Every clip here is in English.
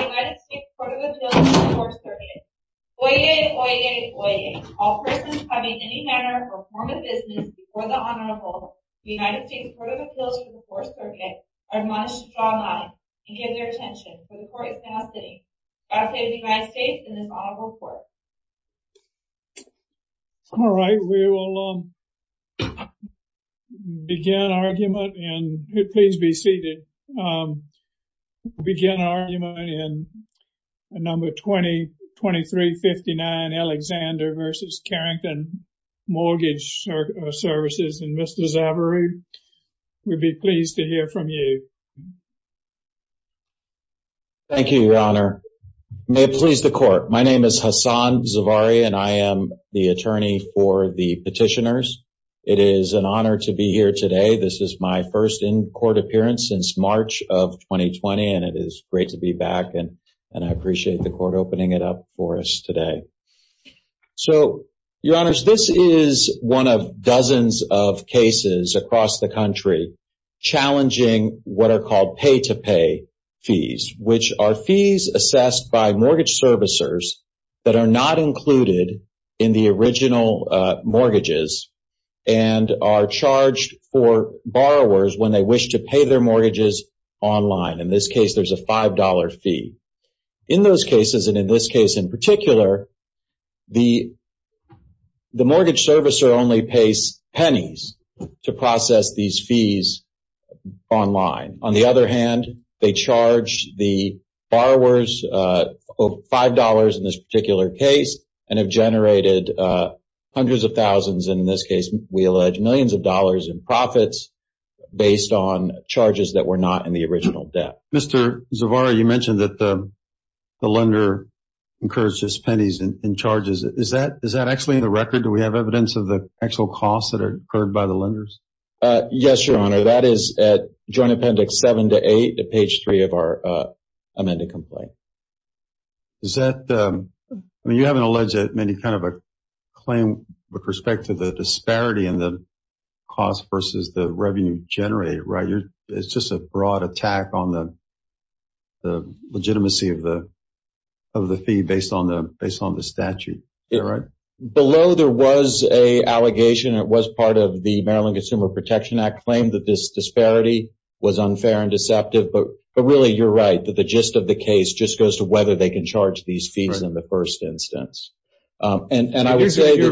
United States Court of Appeals for the Fourth Circuit. Oyez, oyez, oyez. All persons coming in any manner or form of business before the Honorable, the United States Court of Appeals for the Fourth Circuit, are admonished to draw a line and give their attention for the Court is now sitting. God save the United States and this Honorable Court. All right, we will begin argument and please be seated. We'll begin argument in number 2359 Alexander v. Carrington Mortgage Services. And Mr. Zavarro, we'd be pleased to hear from you. Thank you, Your Honor. May it please the Court. My name is Hassan Zavarro and I am the attorney for the petitioners. It is an honor to be here today. This is my first in-court appearance since March of 2020 and it is great to be back and I appreciate the Court opening it up for us today. So, Your Honors, this is one of dozens of cases across the country challenging what are called pay-to-pay fees, which are fees assessed by mortgage servicers that are not included in the original mortgages and are charged for borrowers when they wish to pay their mortgages online. In this case, there's a $5 fee. In those cases, and in this case in particular, the mortgage servicer only pays pennies to process these fees online. On the other hand, they charge the borrowers $5 in this particular case and have generated hundreds of thousands, and in this case we allege millions of dollars in profits based on charges that were not in the original debt. Mr. Zavarro, you mentioned that the lender incurred just pennies in charges. Is that actually in the record? Do we have evidence of the actual costs that are incurred by the lenders? Yes, Your Honor. That is at Joint Appendix 7-8, page 3 of our amended complaint. You haven't alleged any kind of a claim with respect to the disparity in the cost versus the revenue generated, right? It's just a broad attack on the legitimacy of the fee based on the statute, right? Below, there was an allegation. It was part of the Maryland Consumer Protection Act claim that this disparity was unfair and deceptive, but really, you're right. The gist of the case just goes to whether they can charge these fees in the first instance. You're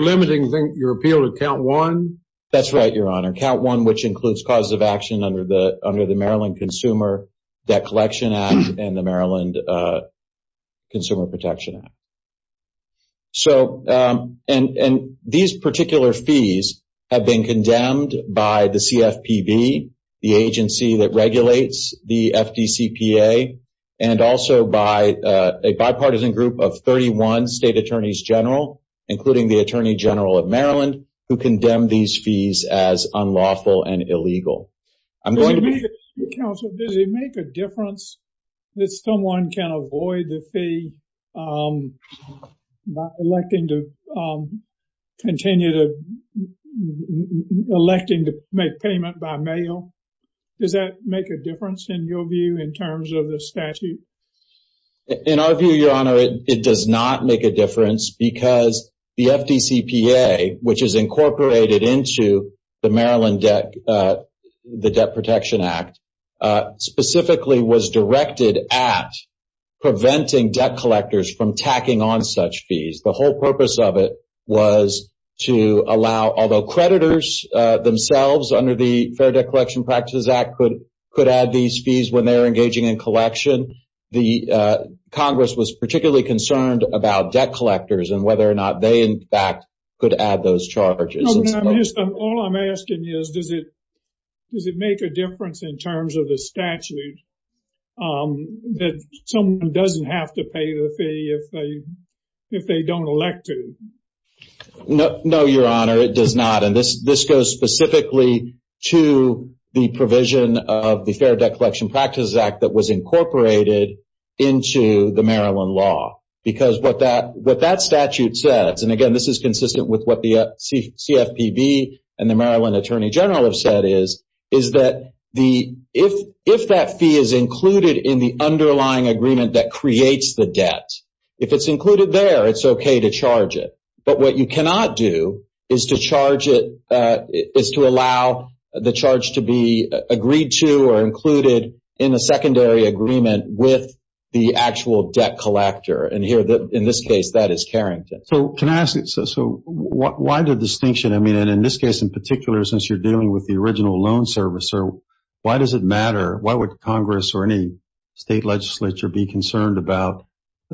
limiting your appeal to Count 1? That's right, Your Honor. Count 1, which includes causes of action under the Maryland Consumer Debt Collection Act and the Maryland Consumer Protection Act. These particular fees have been condemned by the CFPB, the agency that regulates the FDCPA, and also by a bipartisan group of 31 state attorneys general, including the Attorney General of Maryland, who condemned these fees as unlawful and illegal. Does it make a difference that someone can avoid the fee by electing to make payment by mail? Does that make a difference in your view in terms of the statute? In our view, Your Honor, it does not make a difference because the FDCPA, which is incorporated into the Maryland Debt Protection Act, specifically was directed at preventing debt collectors from tacking on such fees. The whole purpose of it was to allow, although creditors themselves under the Fair Debt Collection Practices Act could add these fees when they're engaging in collection, the Congress was particularly concerned about debt collectors and whether or not they, in fact, could add those charges. All I'm asking is, does it make a difference in terms of the statute that someone doesn't have to pay the fee if they don't elect to? No, Your Honor, it does not. This goes specifically to the provision of the Fair Debt Collection Practices Act that was incorporated into the Maryland law. What that statute says, and again, this is consistent with what the CFPB and the Maryland Attorney General have said, is that if that fee is included in the underlying agreement that creates the debt, if it's included there, it's okay to charge it. But what you cannot do is to charge it, is to allow the charge to be agreed to or included in a secondary agreement with the actual debt collector. And here, in this case, that is Carrington. So why the distinction? I mean, in this case in particular, since you're dealing with the original loan service, why does it matter? Why would Congress or any state legislature be concerned about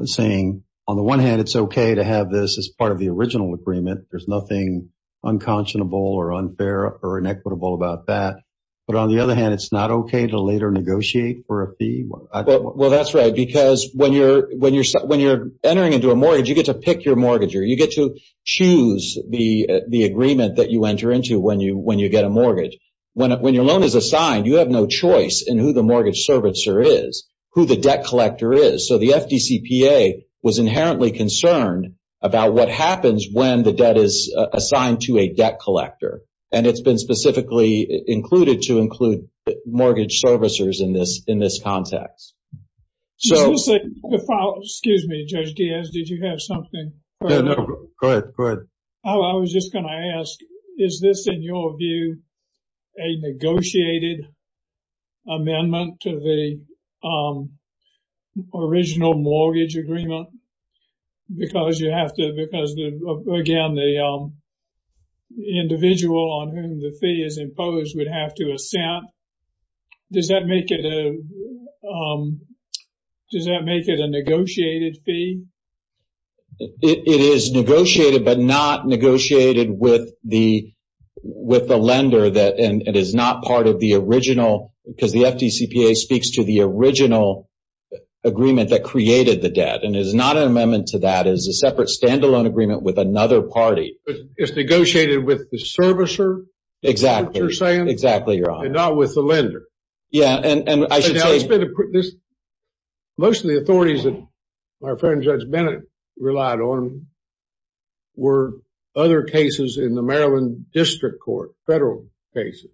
saying, on the one hand, it's okay to have this as part of the original agreement, there's nothing unconscionable or unfair or inequitable about that, but on the other hand, it's not okay to later negotiate for a fee? Well, that's right, because when you're entering into a mortgage, you get to pick your mortgager. You get to choose the agreement that you enter into when you get a mortgage. When your loan is assigned, you have no choice in who the mortgage servicer is, who the debt collector is. So the FDCPA was inherently concerned about what happens when the debt is assigned to a debt collector. And it's been specifically included to include mortgage servicers in this context. Excuse me, Judge Diaz, did you have something? No, go ahead. I was just going to ask, is this, in your view, a negotiated amendment to the original mortgage agreement? Because you have to, because, again, the individual on whom the fee is imposed would have to assent. Does that make it a negotiated fee? It is negotiated, but not negotiated with the lender. And it is not part of the original, because the FDCPA speaks to the original agreement that created the debt. And it is not an amendment to that. It is a separate, standalone agreement with another party. But it's negotiated with the servicer? Exactly. That's what you're saying? Exactly, Your Honor. And not with the lender? Most of the authorities that my friend Judge Bennett relied on were other cases in the Maryland District Court, federal cases.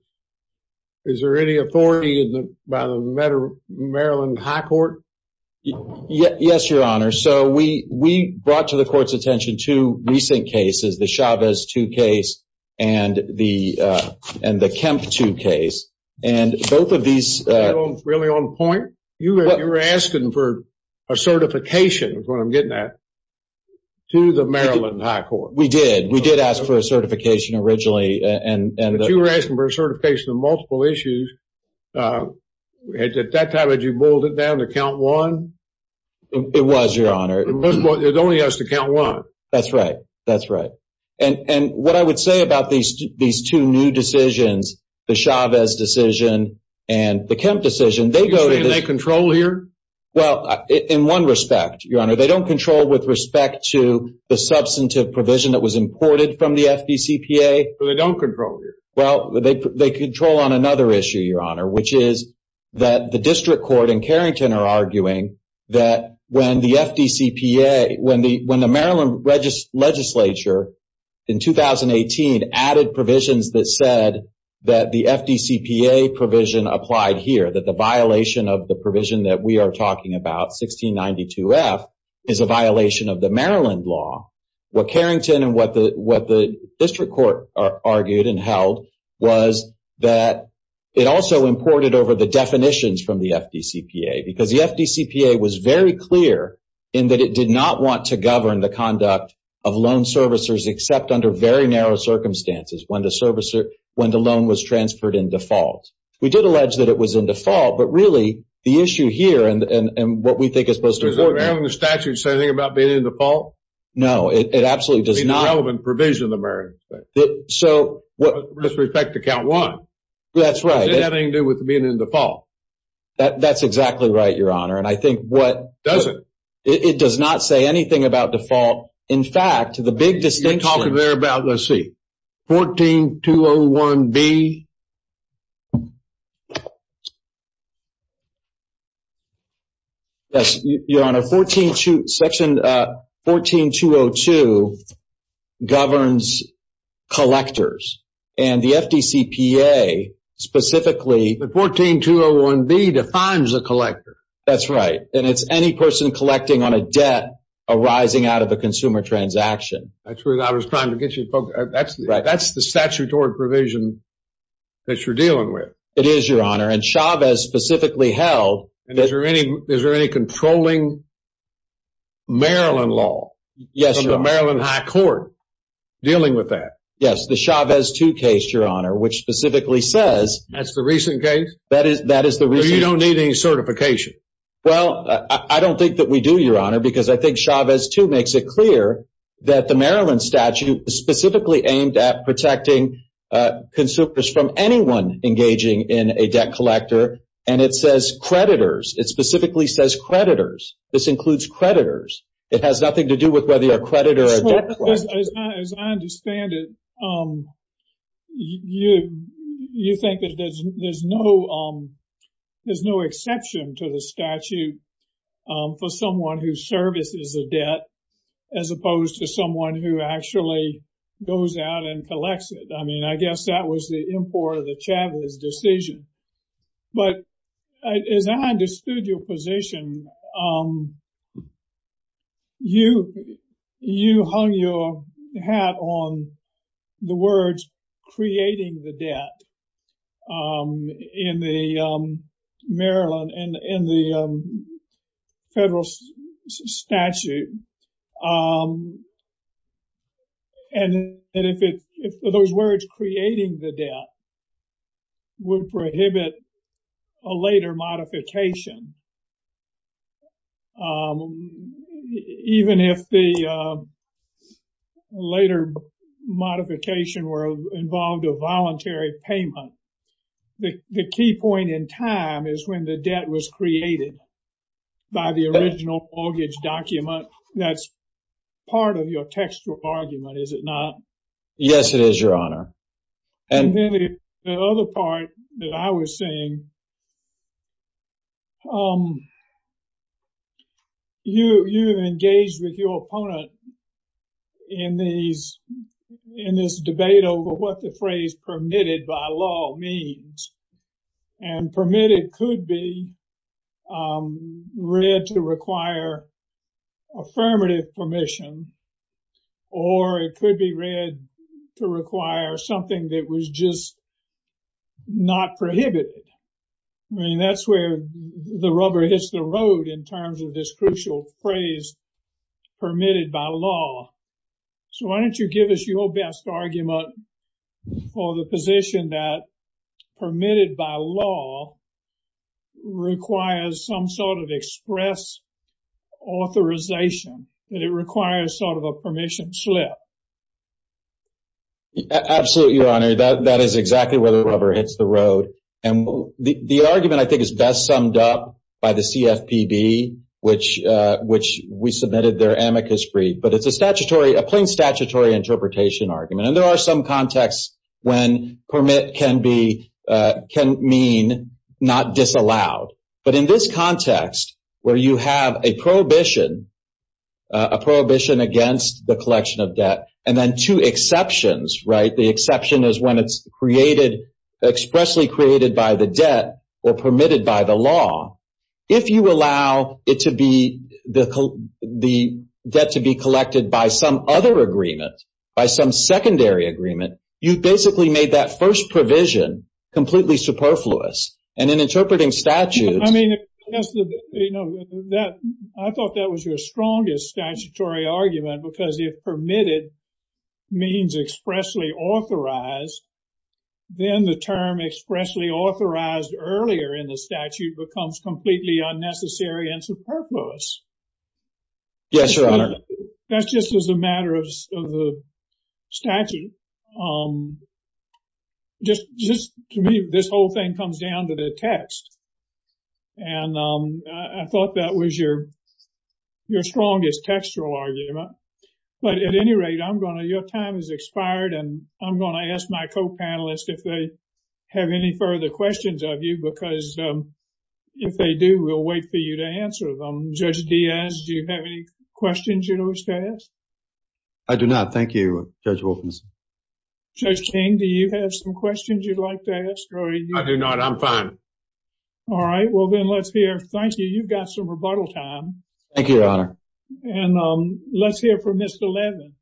Is there any authority by the Maryland High Court? Yes, Your Honor. So we brought to the court's attention two recent cases, the Chavez 2 case and the Kemp 2 case. And both of these... Really on point? You were asking for a certification, is what I'm getting at, to the Maryland High Court. We did. We did ask for a certification originally. But you were asking for a certification on multiple issues. At that time, had you boiled it down to count one? It was, Your Honor. It only has to count one. That's right. That's right. And what I would say about these two new decisions, the Chavez decision and the Kemp decision, they go to... You're saying they control here? Well, in one respect, Your Honor. They don't control with respect to the substantive provision that was imported from the FDCPA. So they don't control here? Well, they control on another issue, Your Honor, which is that the District Court and Carrington are arguing that when the FDCPA... When the Maryland legislature in 2018 added provisions that said that the FDCPA provision applied here, that the violation of the provision that we are talking about, 1692F, is a violation of the Maryland law. What Carrington and what the District Court argued and held was that it also imported over the definitions from the FDCPA. Because the FDCPA was very clear in that it did not want to govern the conduct of loan servicers except under very narrow circumstances when the loan was transferred in default. We did allege that it was in default, but really, the issue here and what we think is supposed to... Does the Maryland statute say anything about being in default? No, it absolutely does not. It's an irrelevant provision in the Maryland statute. So... With respect to count one. That's right. Does it have anything to do with being in default? That's exactly right, Your Honor, and I think what... Does it? It does not say anything about default. In fact, the big distinction... You're talking there about, let's see, 14201B. Yes, Your Honor, section 14202 governs collectors, and the FDCPA specifically... But 14201B defines a collector. That's right, and it's any person collecting on a debt arising out of a consumer transaction. That's what I was trying to get you to focus... That's the statutory provision that you're dealing with. It is, Your Honor, and Chavez specifically held... And is there any controlling Maryland law from the Maryland High Court dealing with that? Yes, the Chavez 2 case, Your Honor, which specifically says... That's the recent case? That is the recent case. So you don't need any certification? Well, I don't think that we do, Your Honor, because I think Chavez 2 makes it clear... That the Maryland statute is specifically aimed at protecting consumers from anyone engaging in a debt collector. And it says creditors. It specifically says creditors. This includes creditors. It has nothing to do with whether you're a creditor or a debt collector. As I understand it, you think that there's no exception to the statute for someone who services a debt, as opposed to someone who actually goes out and collects it. I mean, I guess that was the import of the Chavez decision. But as I understood your position, you hung your hat on the words, prohibit a later modification, even if the later modification involved a voluntary payment. The key point in time is when the debt was created by the original mortgage document. That's part of your textual argument, is it not? Yes, it is, Your Honor. And then the other part that I was saying, you engage with your opponent in this debate over what the phrase permitted by law means. And permitted could be read to require affirmative permission, or it could be read to require something that was just not prohibited. I mean, that's where the rubber hits the road in terms of this crucial phrase permitted by law. So why don't you give us your best argument for the position that permitted by law requires some sort of express authorization, that it requires sort of a permission slip? Absolutely, Your Honor. That is exactly where the rubber hits the road. And the argument, I think, is best summed up by the CFPB, which we submitted their amicus brief. But it's a statutory, a plain statutory interpretation argument. And there are some contexts when permit can mean not disallowed. But in this context, where you have a prohibition against the collection of debt, and then two exceptions, right? The exception is when it's expressly created by the debt or permitted by the law. If you allow the debt to be collected by some other agreement, by some secondary agreement, you basically made that first provision completely superfluous. And in interpreting statutes... I mean, I thought that was your strongest statutory argument, because if permitted means expressly authorized, then the term expressly authorized earlier in the statute becomes completely unnecessary and superfluous. Yes, Your Honor. That's just as a matter of the statute. Just to me, this whole thing comes down to the text. And I thought that was your strongest textual argument. But at any rate, your time has expired. And I'm going to ask my co-panelists if they have any further questions of you, because if they do, we'll wait for you to answer them. Judge Diaz, do you have any questions you wish to ask? I do not. Thank you, Judge Wilkinson. Judge King, do you have some questions you'd like to ask? I do not. I'm fine. All right. Well, then let's hear... Thank you. You've got some rebuttal time. Thank you, Your Honor. And let's hear from Mr. Levin.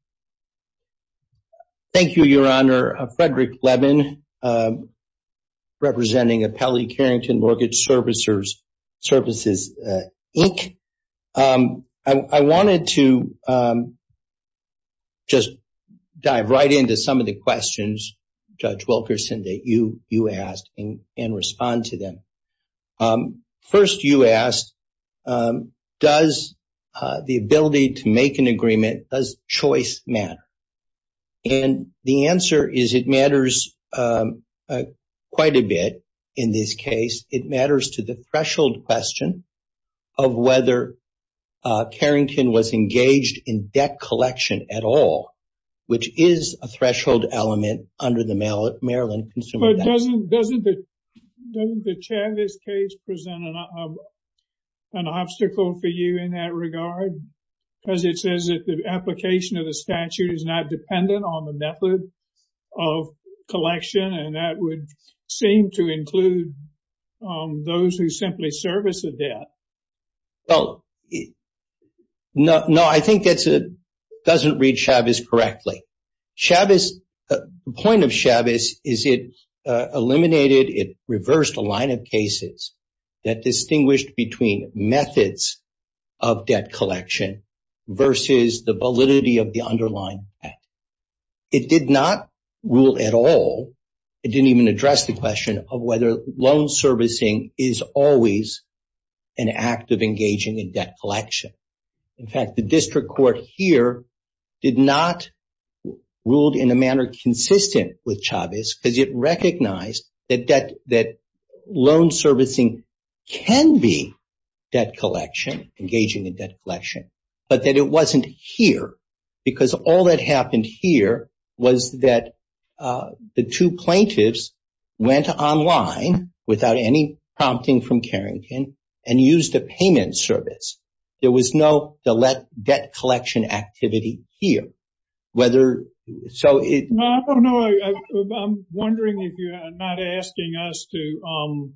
Thank you, Your Honor. Frederick Levin, representing Appellee Carrington Mortgage Services, Inc. I wanted to just dive right into some of the questions, Judge Wilkinson, that you asked and respond to them. First, you asked, does the ability to make an agreement, does choice matter? And the answer is it matters quite a bit in this case. It matters to the threshold question of whether Carrington was engaged in debt collection at all, which is a threshold element under the Maryland Consumer Debt Act. But doesn't the Chavez case present an obstacle for you in that regard? Because it says that the application of the statute is not dependent on the method of collection, and that would seem to include those who simply service a debt. No, I think that doesn't read Chavez correctly. The point of Chavez is it eliminated, it reversed a line of cases that distinguished between methods of debt collection versus the validity of the underlying act. It did not rule at all. It didn't even address the question of whether loan servicing is always an act of engaging in debt collection. In fact, the district court here did not rule in a manner consistent with Chavez because it recognized that loan servicing can be debt collection, engaging in debt collection, but that it wasn't here because all that happened here was that the two plaintiffs went online without any prompting from Carrington and used a payment service. There was no debt collection activity here. I'm wondering if you're not asking us to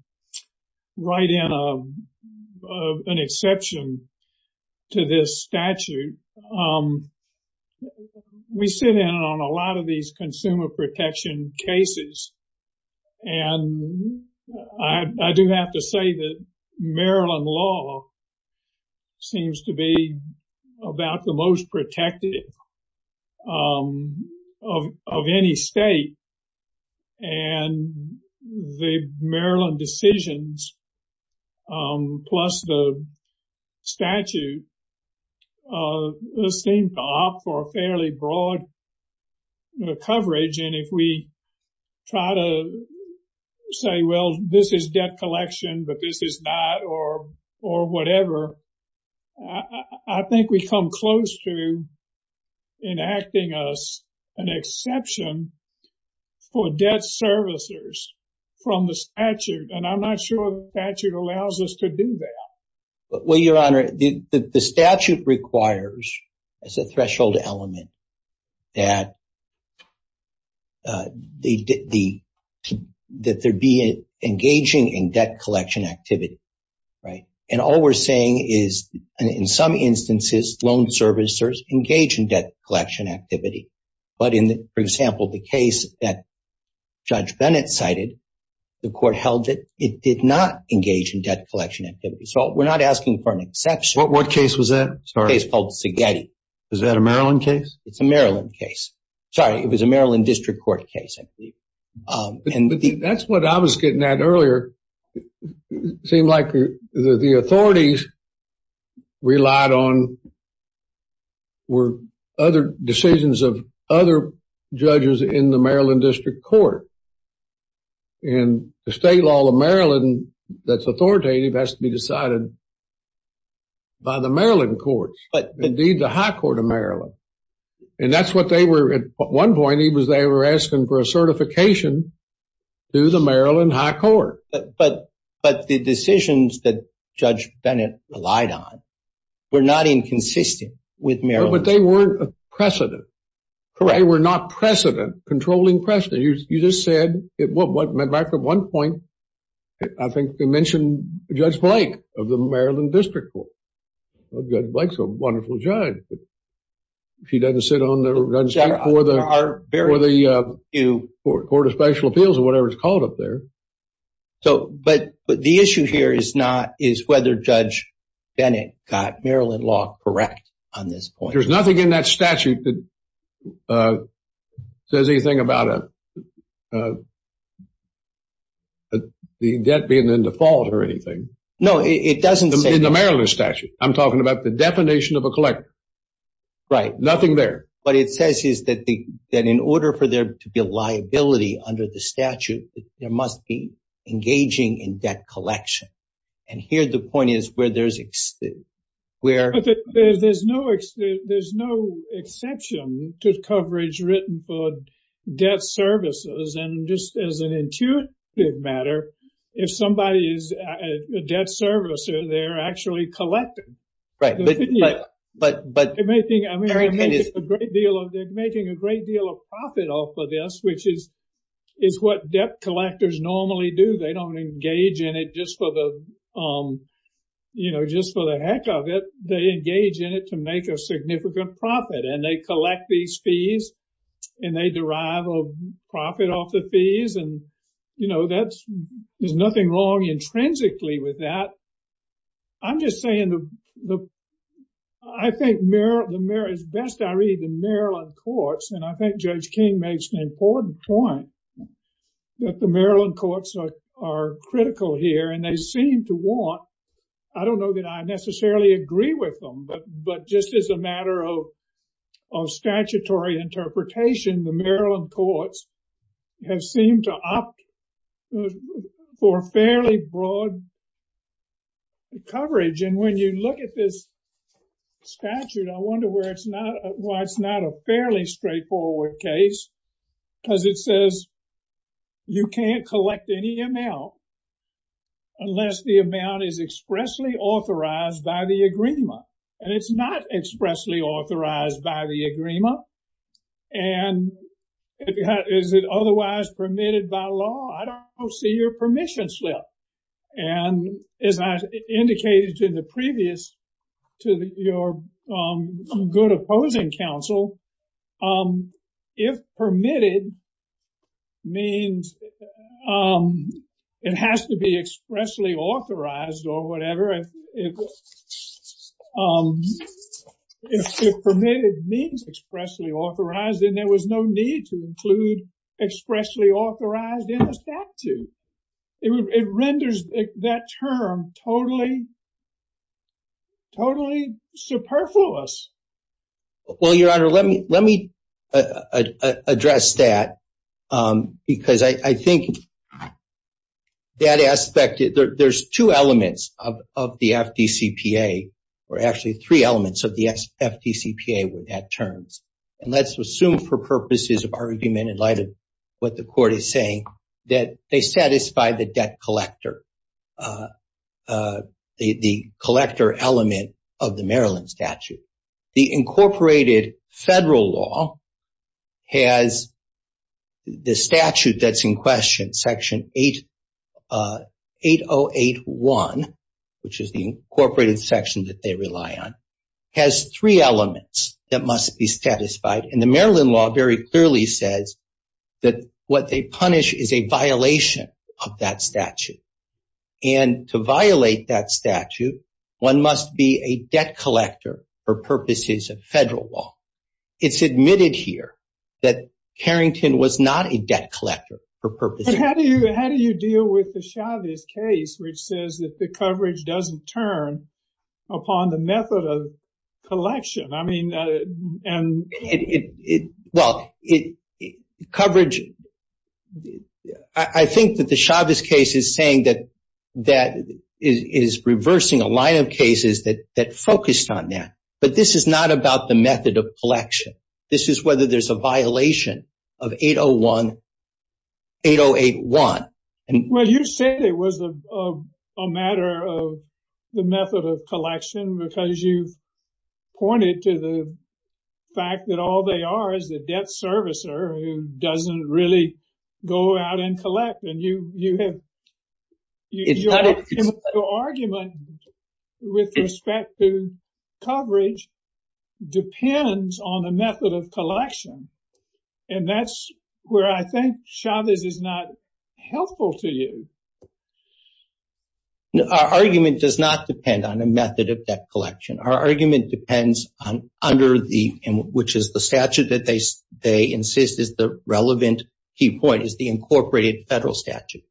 write in an exception to this statute. We sit in on a lot of these consumer protection cases, and I do have to say that Maryland law seems to be about the most protective of any state, and the Maryland decisions plus the statute seem to opt for a fairly broad coverage, and if we try to say, well, this is debt collection, but this is not, or whatever, I think we come close to enacting us an exception for debt servicers from the statute, and I'm not sure the statute allows us to do that. Well, Your Honor, the statute requires as a threshold element that there be engaging in debt collection activity, right? And all we're saying is, in some instances, loan servicers engage in debt collection activity, but in, for example, the case that Judge Bennett cited, the court held that it did not engage in debt collection activity. So we're not asking for an exception. What case was that? A case called Segeti. Is that a Maryland case? It's a Maryland case. Sorry, it was a Maryland district court case, I believe. That's what I was getting at earlier. It seemed like the authorities relied on other decisions of other judges in the Maryland district court, and the state law of Maryland that's authoritative has to be decided by the Maryland courts, indeed the high court of Maryland. And that's what they were, at one point, they were asking for a certification through the Maryland high court. But the decisions that Judge Bennett relied on were not inconsistent with Maryland. But they weren't a precedent. Correct. They were not precedent, controlling precedent. You just said, well, back at one point, I think they mentioned Judge Blake of the Maryland district court. Judge Blake's a wonderful judge. She doesn't sit on the run seat for the court of special appeals or whatever it's called up there. But the issue here is whether Judge Bennett got Maryland law correct on this point. But there's nothing in that statute that says anything about the debt being in default or anything. No, it doesn't say that. In the Maryland statute. I'm talking about the definition of a collector. Right. Nothing there. What it says is that in order for there to be a liability under the statute, there must be engaging in debt collection. And here the point is where there's – There's no exception to coverage written for debt services. And just as an intuitive matter, if somebody is a debt servicer, they're actually collecting. Right. But – They're making a great deal of profit off of this, which is what debt collectors normally do. They don't engage in it just for the heck of it. They engage in it to make a significant profit. And they collect these fees and they derive a profit off the fees. And, you know, there's nothing wrong intrinsically with that. I'm just saying the – I think as best I read the Maryland courts, and I think Judge King makes an important point, that the Maryland courts are critical here and they seem to want – I don't know that I necessarily agree with them, but just as a matter of statutory interpretation, the Maryland courts have seemed to opt for fairly broad coverage. And when you look at this statute, I wonder where it's not – why it's not a fairly straightforward case because it says you can't collect any amount unless the amount is expressly authorized by the agreement. And it's not expressly authorized by the agreement. And is it otherwise permitted by law? I don't see your permission slip. And as I indicated in the previous to your good opposing counsel, if permitted means it has to be expressly authorized or whatever. If permitted means expressly authorized, then there was no need to include expressly authorized in the statute. It renders that term totally superfluous. Well, Your Honor, let me address that because I think that aspect – there's two elements of the FDCPA or actually three elements of the FDCPA with that terms. And let's assume for purposes of argument in light of what the court is saying, that they satisfy the debt collector, the collector element of the Maryland statute. The incorporated federal law has the statute that's in question, Section 8081, which is the incorporated section that they rely on, has three elements that must be satisfied. And the Maryland law very clearly says that what they punish is a violation of that statute. And to violate that statute, one must be a debt collector for purposes of federal law. It's admitted here that Carrington was not a debt collector for purposes of federal law. But how do you deal with the Chavez case, which says that the coverage doesn't turn upon the method of collection? Well, coverage – I think that the Chavez case is saying that it is reversing a line of cases that focused on that. But this is not about the method of collection. This is whether there's a violation of 8081. Well, you said it was a matter of the method of collection because you pointed to the fact that all they are is a debt servicer who doesn't really go out and collect. And your argument with respect to coverage depends on the method of collection. And that's where I think Chavez is not helpful to you. Our argument does not depend on a method of debt collection. Our argument depends on under the – which is the statute that they insist is the relevant key point, is the incorporated federal statute.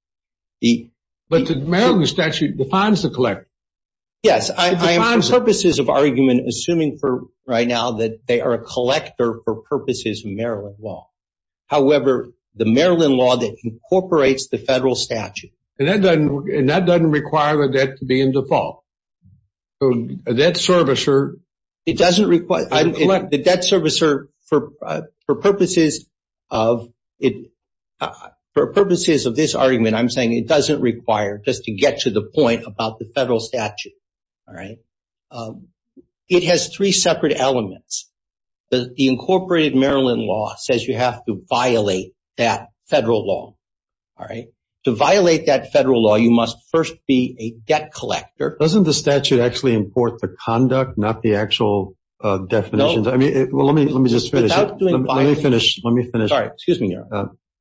But the Maryland statute defines the collector. Yes, I am purposes of argument assuming for right now that they are a collector for purposes of Maryland law. However, the Maryland law that incorporates the federal statute – And that doesn't require the debt to be in default. So a debt servicer – It doesn't require – the debt servicer for purposes of – for purposes of this argument, I'm saying it doesn't require just to get to the point about the federal statute. All right? It has three separate elements. The incorporated Maryland law says you have to violate that federal law. All right? To violate that federal law, you must first be a debt collector. Doesn't the statute actually import the conduct, not the actual definitions? No. Well, let me just finish. Without doing – Let me finish. Sorry. Excuse me,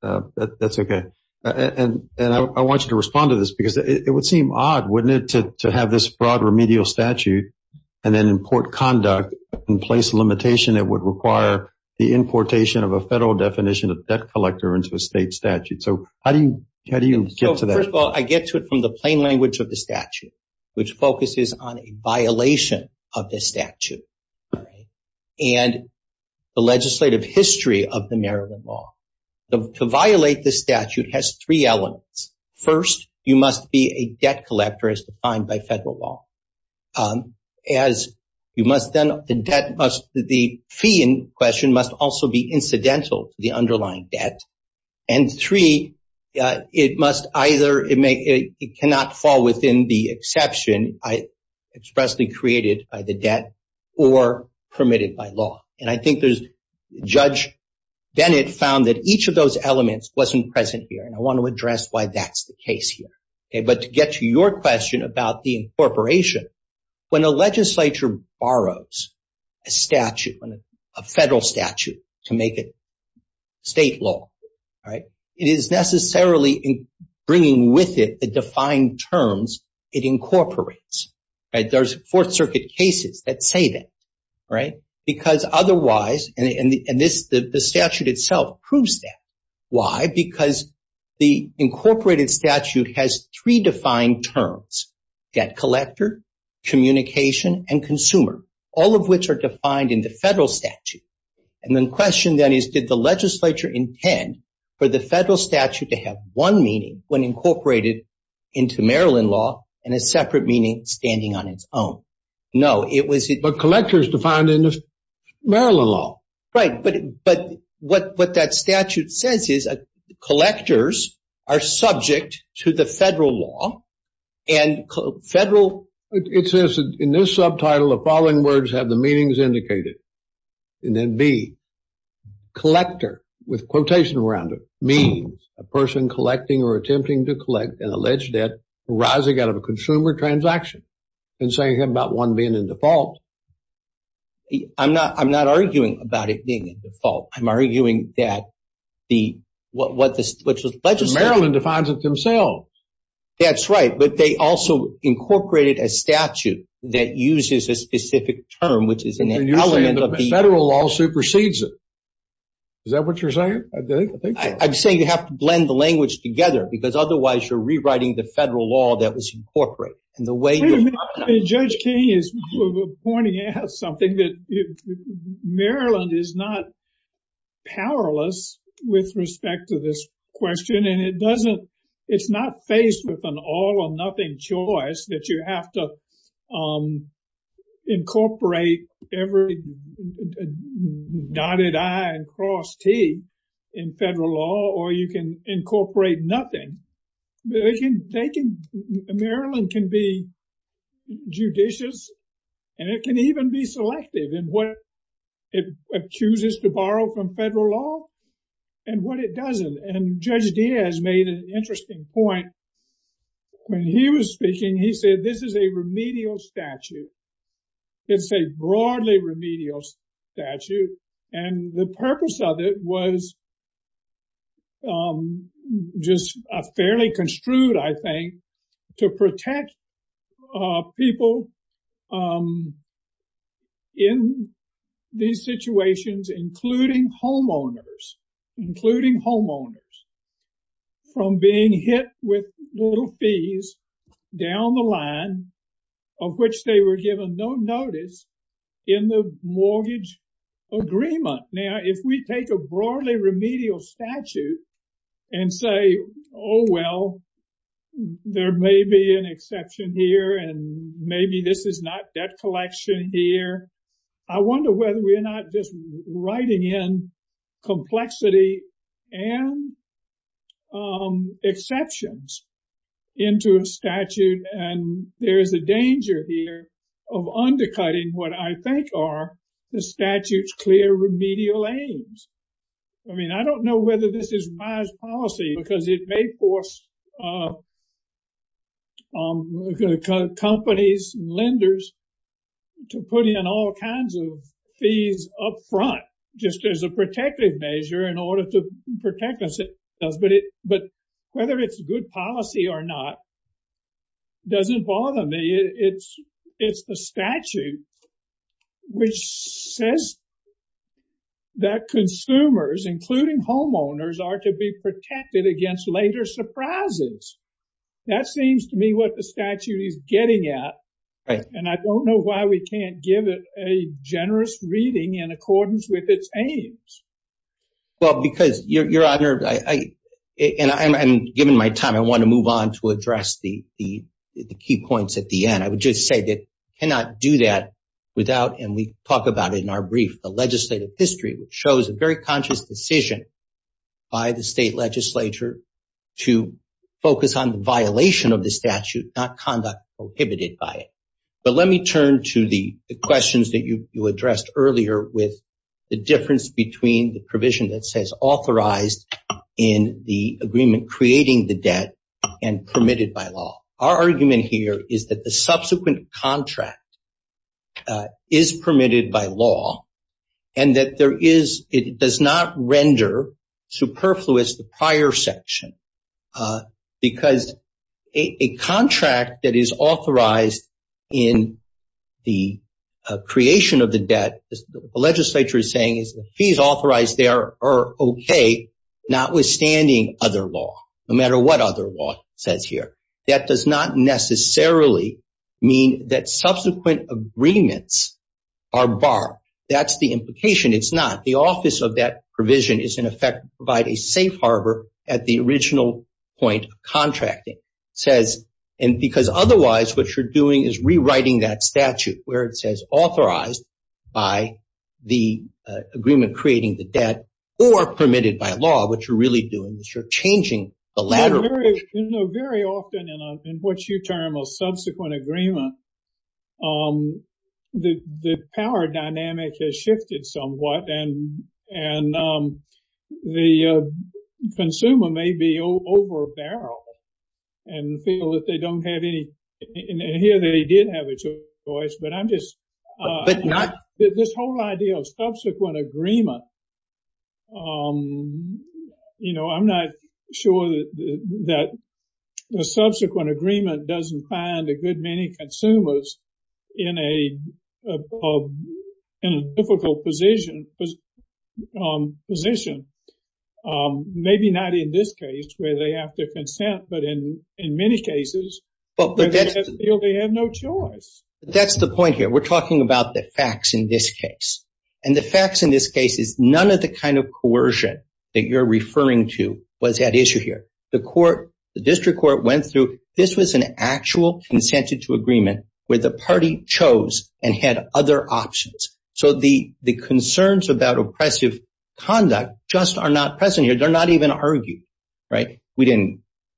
Neeraj. That's okay. And I want you to respond to this because it would seem odd, wouldn't it, to have this broad remedial statute and then import conduct and place a limitation that would require the importation of a federal definition of debt collector into a state statute. So how do you get to that? First of all, I get to it from the plain language of the statute, which focuses on a violation of the statute and the legislative history of the Maryland law. To violate the statute has three elements. First, you must be a debt collector as defined by federal law. As you must then – the debt must – the fee in question must also be incidental to the underlying debt. And three, it must either – it cannot fall within the exception expressly created by the debt or permitted by law. And I think there's – Judge Bennett found that each of those elements wasn't present here, and I want to address why that's the case here. But to get to your question about the incorporation, when a legislature borrows a statute, a federal statute to make it state law, it is necessarily bringing with it the defined terms it incorporates. There's Fourth Circuit cases that say that because otherwise – and the statute itself proves that. Why? Because the incorporated statute has three defined terms, debt collector, communication, and consumer, all of which are defined in the federal statute. And the question then is, did the legislature intend for the federal statute to have one meaning when incorporated into Maryland law and a separate meaning standing on its own? No, it was – But collector is defined in the Maryland law. Right, but what that statute says is collectors are subject to the federal law, and federal – It says in this subtitle, the following words have the meanings indicated. And then B, collector, with quotation around it, means a person collecting or attempting to collect an alleged debt arising out of a consumer transaction, and saying about one being in default. I'm not arguing about it being in default. I'm arguing that the – what the legislature – Maryland defines it themselves. That's right, but they also incorporated a statute that uses a specific term, which is an element of the – And you're saying the federal law supersedes it. Is that what you're saying? I'm saying you have to blend the language together, because otherwise you're rewriting the federal law that was incorporated. Judge King is pointing out something that – Maryland is not powerless with respect to this question, and it doesn't – it's not faced with an all or nothing choice that you have to incorporate every dotted I and cross T in federal law, or you can incorporate nothing. They can – Maryland can be judicious, and it can even be selective in what it chooses to borrow from federal law and what it doesn't. And Judge Diaz made an interesting point when he was speaking. He said this is a remedial statute. It's a broadly remedial statute, and the purpose of it was just a fairly construed, I think, to protect people in these situations, including homeowners, including homeowners, from being hit with little fees down the line of which they were given no notice in the mortgage agreement. Now, if we take a broadly remedial statute and say, oh, well, there may be an exception here, and maybe this is not debt collection here, I wonder whether we're not just writing in complexity and exceptions into a statute, and there is a danger here of undercutting what I think are the statute's clear remedial aims. I mean, I don't know whether this is wise policy, because it may force companies and lenders to put in all kinds of fees up front just as a protective measure in order to protect themselves. But whether it's good policy or not doesn't bother me. It's the statute which says that consumers, including homeowners, are to be protected against later surprises. That seems to me what the statute is getting at, and I don't know why we can't give it a generous reading in accordance with its aims. Well, because, Your Honor, and given my time, I want to move on to address the key points at the end. I would just say that we cannot do that without, and we talk about it in our brief, the legislative history, which shows a very conscious decision by the state legislature to focus on the violation of the statute, not conduct prohibited by it. But let me turn to the questions that you addressed earlier with the difference between the provision that says authorized in the agreement creating the debt and permitted by law. Our argument here is that the subsequent contract is permitted by law and that it does not render superfluous the prior section, because a contract that is authorized in the creation of the debt, the legislature is saying the fees authorized there are okay, notwithstanding other law, no matter what other law says here. That does not necessarily mean that subsequent agreements are barred. That's the implication. It's not. The office of that provision is, in effect, provide a safe harbor at the original point of contracting, because otherwise what you're doing is rewriting that statute where it says authorized by the agreement creating the debt or permitted by law. What you're really doing is you're changing the ladder. Very often, in what you term a subsequent agreement, the power dynamic has shifted somewhat and the consumer may be overbarrel and feel that they don't have any... Here they did have a choice, but I'm just... This whole idea of subsequent agreement, I'm not sure that the subsequent agreement doesn't find a good many consumers in a difficult position. Maybe not in this case where they have to consent, but in many cases, they feel they have no choice. That's the point here. We're talking about the facts in this case. The facts in this case is none of the kind of coercion that you're referring to was at issue here. The district court went through. This was an actual consented to agreement where the party chose and had other options. The concerns about oppressive conduct just are not present here. They're not even argued. There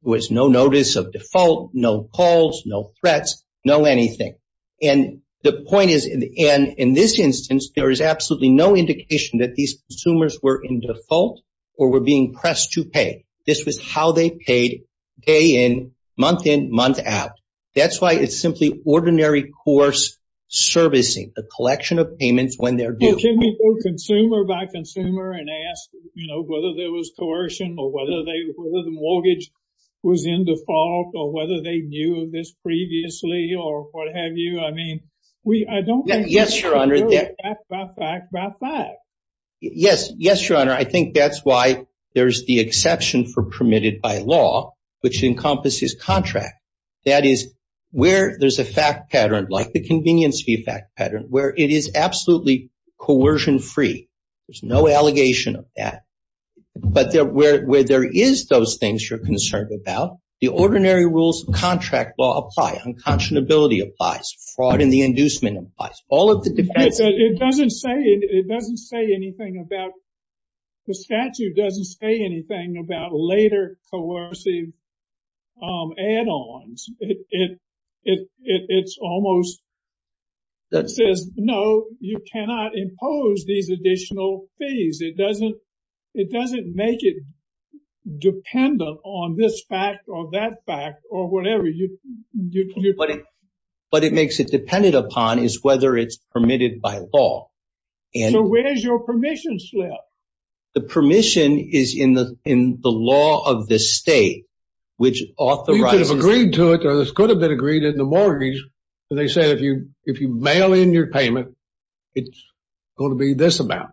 was no notice of default, no calls, no threats, no anything. The point is in this instance, there is absolutely no indication that these consumers were in default or were being pressed to pay. This was how they paid day in, month in, month out. That's why it's simply ordinary course servicing, the collection of payments when they're due. Can we go consumer by consumer and ask whether there was coercion or whether the mortgage was in default or whether they knew this previously or what have you? I mean, I don't think- Yes, Your Honor. Yes. Yes, Your Honor. I think that's why there's the exception for permitted by law, which encompasses contract. That is where there's a fact pattern like the convenience fee fact pattern where it is absolutely coercion free. There's no allegation of that. But where there is those things you're concerned about, the ordinary rules of contract law apply. Unconscionability applies. Fraud in the inducement applies. All of the defense- It doesn't say anything about- The statute doesn't say anything about later coercive add-ons. It's almost- It says, no, you cannot impose these additional fees. It doesn't make it dependent on this fact or that fact or whatever. What it makes it dependent upon is whether it's permitted by law. So where's your permission slip? The permission is in the law of the state, which authorizes- You could have agreed to it or this could have been agreed in the mortgage. They say if you mail in your payment, it's going to be this amount.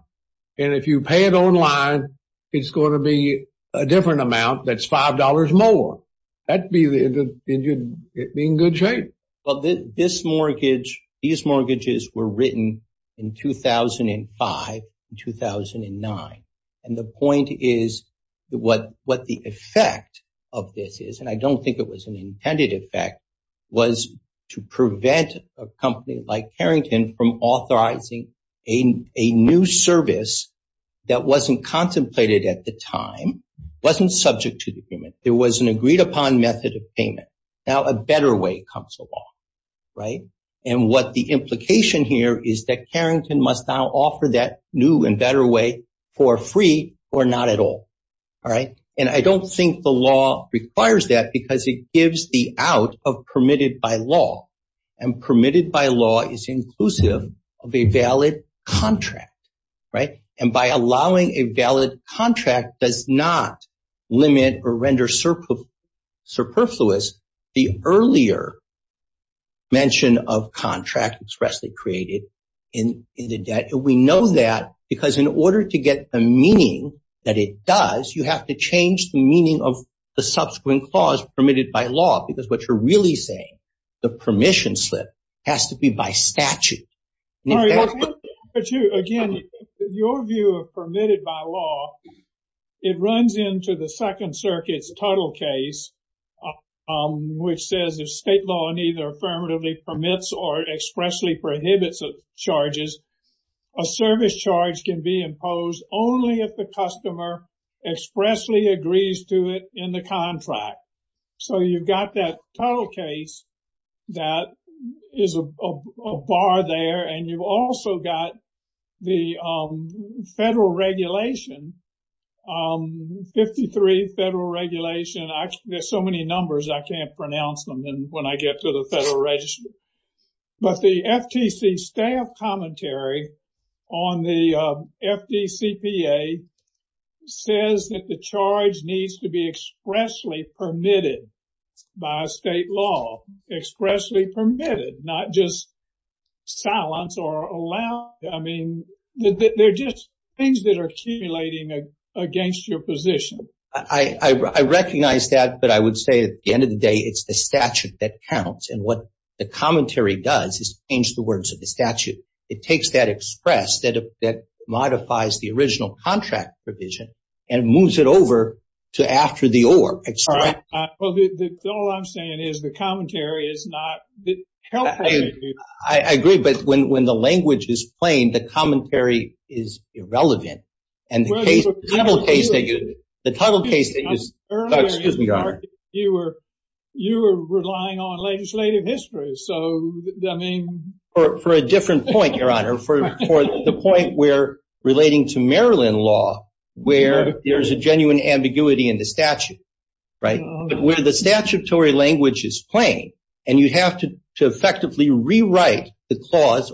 And if you pay it online, it's going to be a different amount that's $5 more. That would be in good shape. Well, this mortgage, these mortgages were written in 2005 and 2009. And the point is what the effect of this is, and I don't think it was an intended effect, was to prevent a company like Carrington from authorizing a new service that wasn't contemplated at the time, wasn't subject to the agreement. It was an agreed upon method of payment. Now a better way comes along, right? And what the implication here is that Carrington must now offer that new and better way for free or not at all. And I don't think the law requires that because it gives the out of permitted by law. And permitted by law is inclusive of a valid contract. And by allowing a valid contract does not limit or render superfluous the earlier mention of contract expressly created in the debt. We know that because in order to get the meaning that it does, you have to change the meaning of the subsequent clause permitted by law, because what you're really saying, the permission slip has to be by statute. Again, your view of permitted by law, it runs into the Second Circuit's total case, which says if state law neither affirmatively permits or expressly prohibits charges, a service charge can be imposed only if the customer expressly agrees to it in the contract. So you've got that total case that is a bar there. And you've also got the federal regulation, 53 federal regulation. There's so many numbers I can't pronounce them when I get to the federal register. But the FTC staff commentary on the FDCPA says that the charge needs to be expressly permitted by state law. Expressly permitted, not just silence or allow. I mean, they're just things that are accumulating against your position. I recognize that. But I would say at the end of the day, it's the statute that counts. And what the commentary does is change the words of the statute. It takes that express that modifies the original contract provision and moves it over to after the or. All I'm saying is the commentary is not helpful. I agree. But when the language is plain, the commentary is irrelevant. And the case, the title case, excuse me, Your Honor. You were relying on legislative history. So, I mean. For a different point, Your Honor. For the point where relating to Maryland law where there's a genuine ambiguity in the statute. Right. But where the statutory language is plain and you have to effectively rewrite the clause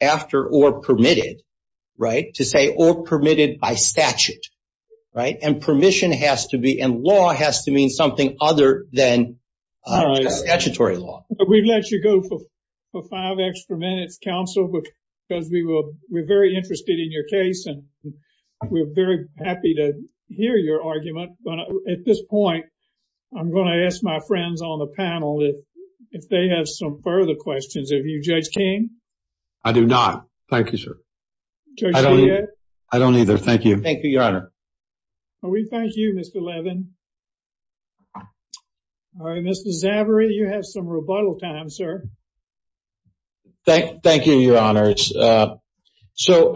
after or permitted. Right. To say or permitted by statute. Right. And permission has to be. And law has to mean something other than statutory law. We've let you go for five extra minutes, counsel, because we're very interested in your case. And we're very happy to hear your argument. But at this point, I'm going to ask my friends on the panel if they have some further questions. Have you, Judge King? I do not. Thank you, sir. I don't either. Thank you. Thank you, Your Honor. We thank you, Mr. Levin. Mr. Zavory, you have some rebuttal time, sir. Thank you, Your Honor. So,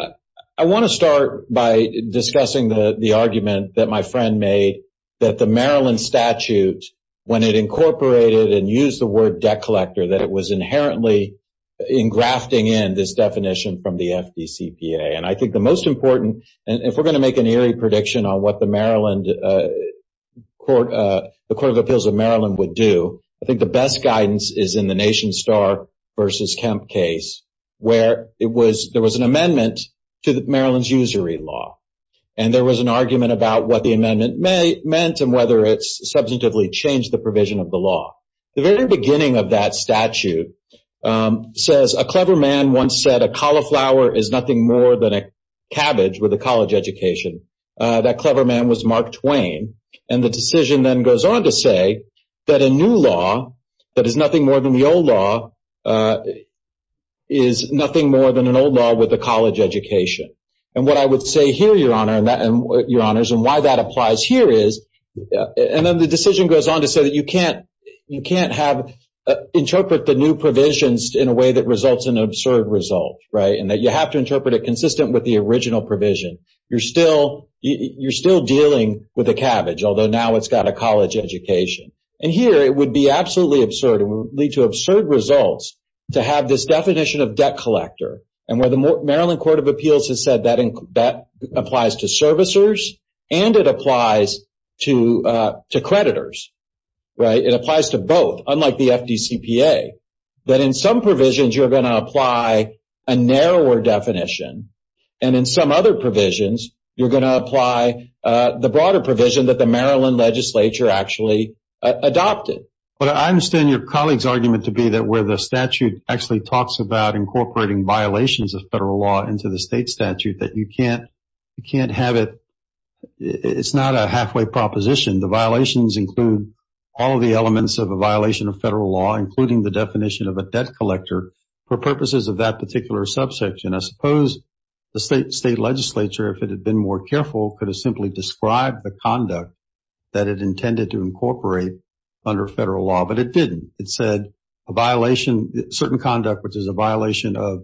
I want to start by discussing the argument that my friend made that the Maryland statute, when it incorporated and used the word debt collector, that it was inherently engrafting in this definition from the FDCPA. And I think the most important, and if we're going to make an eerie prediction on what the Court of Appeals of Maryland would do, I think the best guidance is in the Nation Star v. Kemp case, where there was an amendment to Maryland's usury law. And there was an argument about what the amendment meant and whether it's substantively changed the provision of the law. The very beginning of that statute says, a clever man once said, a cauliflower is nothing more than a cabbage with a college education. That clever man was Mark Twain. And the decision then goes on to say that a new law that is nothing more than the old law is nothing more than an old law with a college education. And what I would say here, Your Honors, and why that applies here is, and then the decision goes on to say that you can't interpret the new provisions in a way that results in an absurd result, right? And that you have to interpret it consistent with the original provision. You're still dealing with a cabbage, although now it's got a college education. And here, it would be absolutely absurd and would lead to absurd results to have this definition of debt collector. And where the Maryland Court of Appeals has said that applies to servicers and it applies to creditors, right? It applies to both, unlike the FDCPA. That in some provisions, you're going to apply a narrower definition. And in some other provisions, you're going to apply the broader provision that the Maryland legislature actually adopted. But I understand your colleague's argument to be that where the statute actually talks about incorporating violations of federal law into the state statute, that you can't have it – it's not a halfway proposition. The violations include all of the elements of a violation of federal law, including the definition of a debt collector for purposes of that particular subsection. I suppose the state legislature, if it had been more careful, could have simply described the conduct that it intended to incorporate under federal law. But it didn't. It said a violation – certain conduct, which is a violation of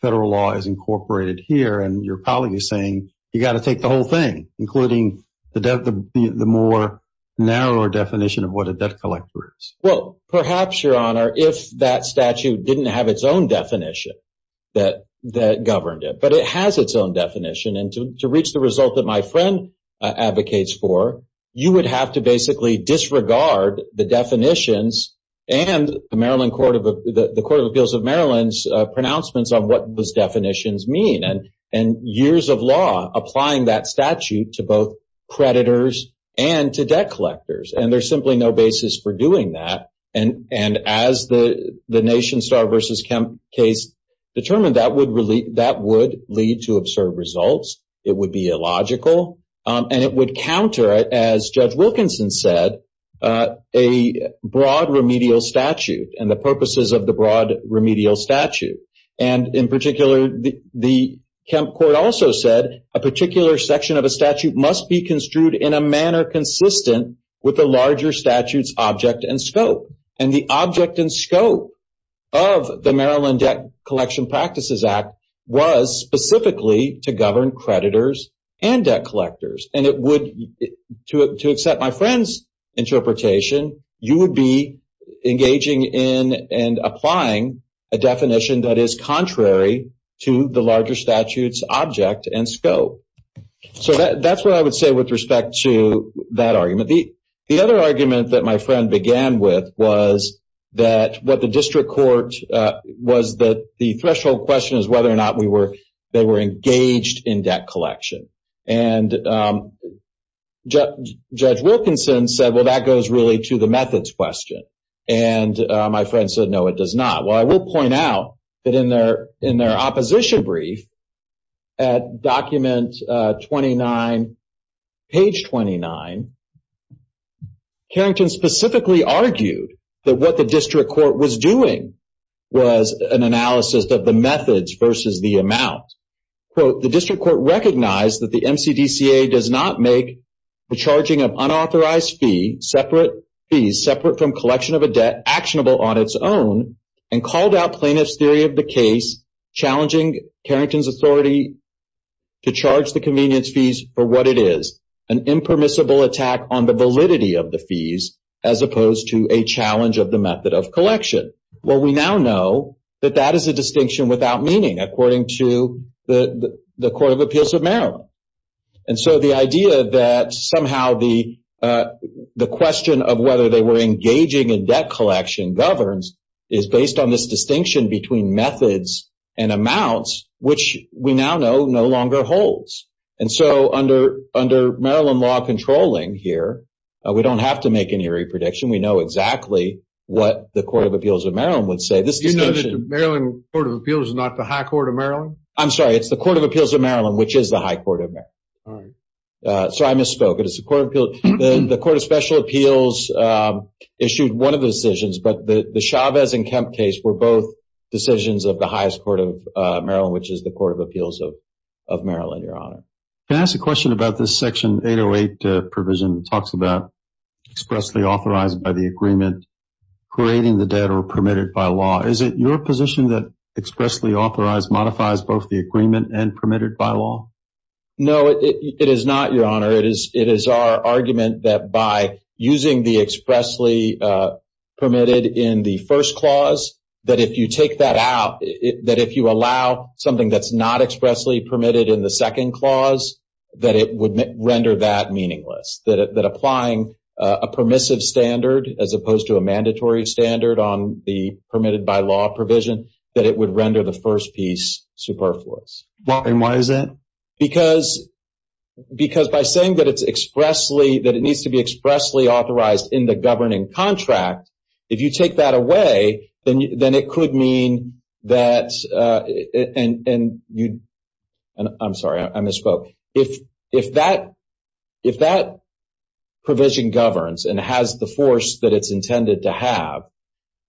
federal law, is incorporated here. And your colleague is saying you've got to take the whole thing, including the more narrower definition of what a debt collector is. Well, perhaps, Your Honor, if that statute didn't have its own definition that governed it. But it has its own definition. And to reach the result that my friend advocates for, you would have to basically disregard the definitions and the Court of Appeals of Maryland's pronouncements on what those definitions mean and years of law applying that statute to both creditors and to debt collectors. And there's simply no basis for doing that. And as the Nation Star v. Kemp case determined, that would lead to absurd results. It would be illogical. And it would counter, as Judge Wilkinson said, a broad remedial statute and the purposes of the broad remedial statute. And in particular, the Kemp court also said a particular section of a statute must be construed in a manner consistent with the larger statute's object and scope. And the object and scope of the Maryland Debt Collection Practices Act was specifically to govern creditors and debt collectors. And it would, to accept my friend's interpretation, you would be engaging in and applying a definition that is contrary to the larger statute's object and scope. So that's what I would say with respect to that argument. The other argument that my friend began with was that what the district court, was that the threshold question is whether or not they were engaged in debt collection. And Judge Wilkinson said, well, that goes really to the methods question. And my friend said, no, it does not. Well, I will point out that in their opposition brief at document 29, page 29, Carrington specifically argued that what the district court was doing was an analysis of the methods versus the amount. Quote, the district court recognized that the MCDCA does not make the charging of unauthorized fees, separate fees, separate from collection of a debt, actionable on its own, and called out plaintiff's theory of the case challenging Carrington's authority to charge the convenience fees for what it is, an impermissible attack on the validity of the fees as opposed to a challenge of the method of collection. Well, we now know that that is a distinction without meaning, according to the Court of Appeals of Maryland. And so the idea that somehow the question of whether they were engaging in debt collection governs is based on this distinction between methods and amounts, which we now know no longer holds. And so under Maryland law controlling here, we don't have to make any re-prediction. We know exactly what the Court of Appeals of Maryland would say. Do you know that the Maryland Court of Appeals is not the High Court of Maryland? I'm sorry, it's the Court of Appeals of Maryland, which is the High Court of Maryland. All right. Sorry, I misspoke. The Court of Special Appeals issued one of the decisions, but the Chavez and Kemp case were both decisions of the highest court of Maryland, which is the Court of Appeals of Maryland, Your Honor. Can I ask a question about this Section 808 provision that talks about expressly authorized by the agreement, creating the debt, or permitted by law? Is it your position that expressly authorized modifies both the agreement and permitted by law? No, it is not, Your Honor. It is our argument that by using the expressly permitted in the first clause, that if you take that out, that if you allow something that's not expressly permitted in the second clause, that it would render that meaningless, that applying a permissive standard as opposed to a mandatory standard on the permitted by law provision, that it would render the first piece superfluous. And why is that? Because by saying that it needs to be expressly authorized in the governing contract, if you take that away, then it could mean that, and I'm sorry, I misspoke. If that provision governs and has the force that it's intended to have,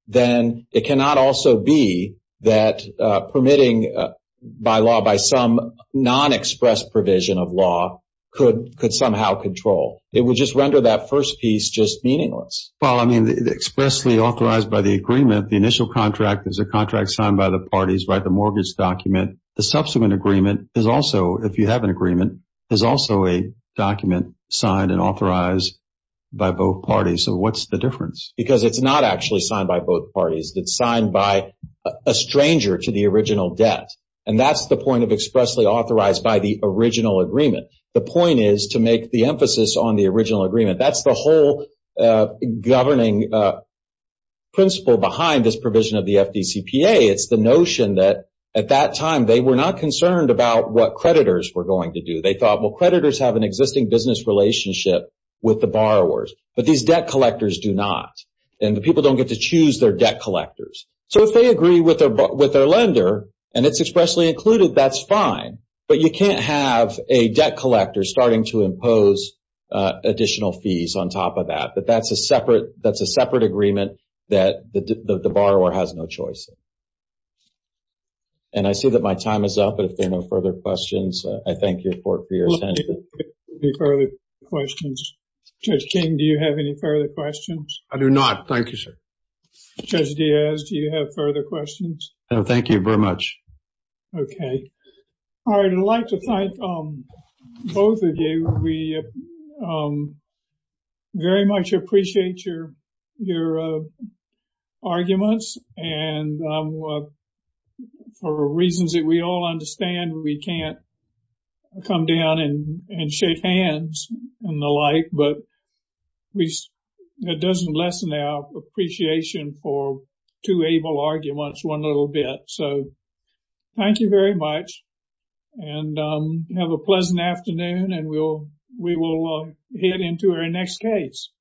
then it cannot also be that permitting by law by some non-expressed provision of law could somehow control. It would just render that first piece just meaningless. Well, I mean, expressly authorized by the agreement, the initial contract is a contract signed by the parties, right, the mortgage document. The subsequent agreement is also, if you have an agreement, is also a document signed and authorized by both parties. So what's the difference? Because it's not actually signed by both parties. It's signed by a stranger to the original debt. And that's the point of expressly authorized by the original agreement. The point is to make the emphasis on the original agreement. That's the whole governing principle behind this provision of the FDCPA. It's the notion that at that time they were not concerned about what creditors were going to do. They thought, well, creditors have an existing business relationship with the borrowers, but these debt collectors do not, and the people don't get to choose their debt collectors. So if they agree with their lender and it's expressly included, that's fine, but you can't have a debt collector starting to impose additional fees on top of that. But that's a separate agreement that the borrower has no choice. And I see that my time is up, but if there are no further questions, I thank your court for your attention. Any further questions? Judge King, do you have any further questions? I do not. Thank you, sir. Judge Diaz, do you have further questions? No, thank you very much. Okay. All right. I'd like to thank both of you. We very much appreciate your arguments, and for reasons that we all understand, we can't come down and shake hands and the like, but it doesn't lessen our appreciation for two able arguments one little bit. So thank you very much, and have a pleasant afternoon, and we will head into our next case.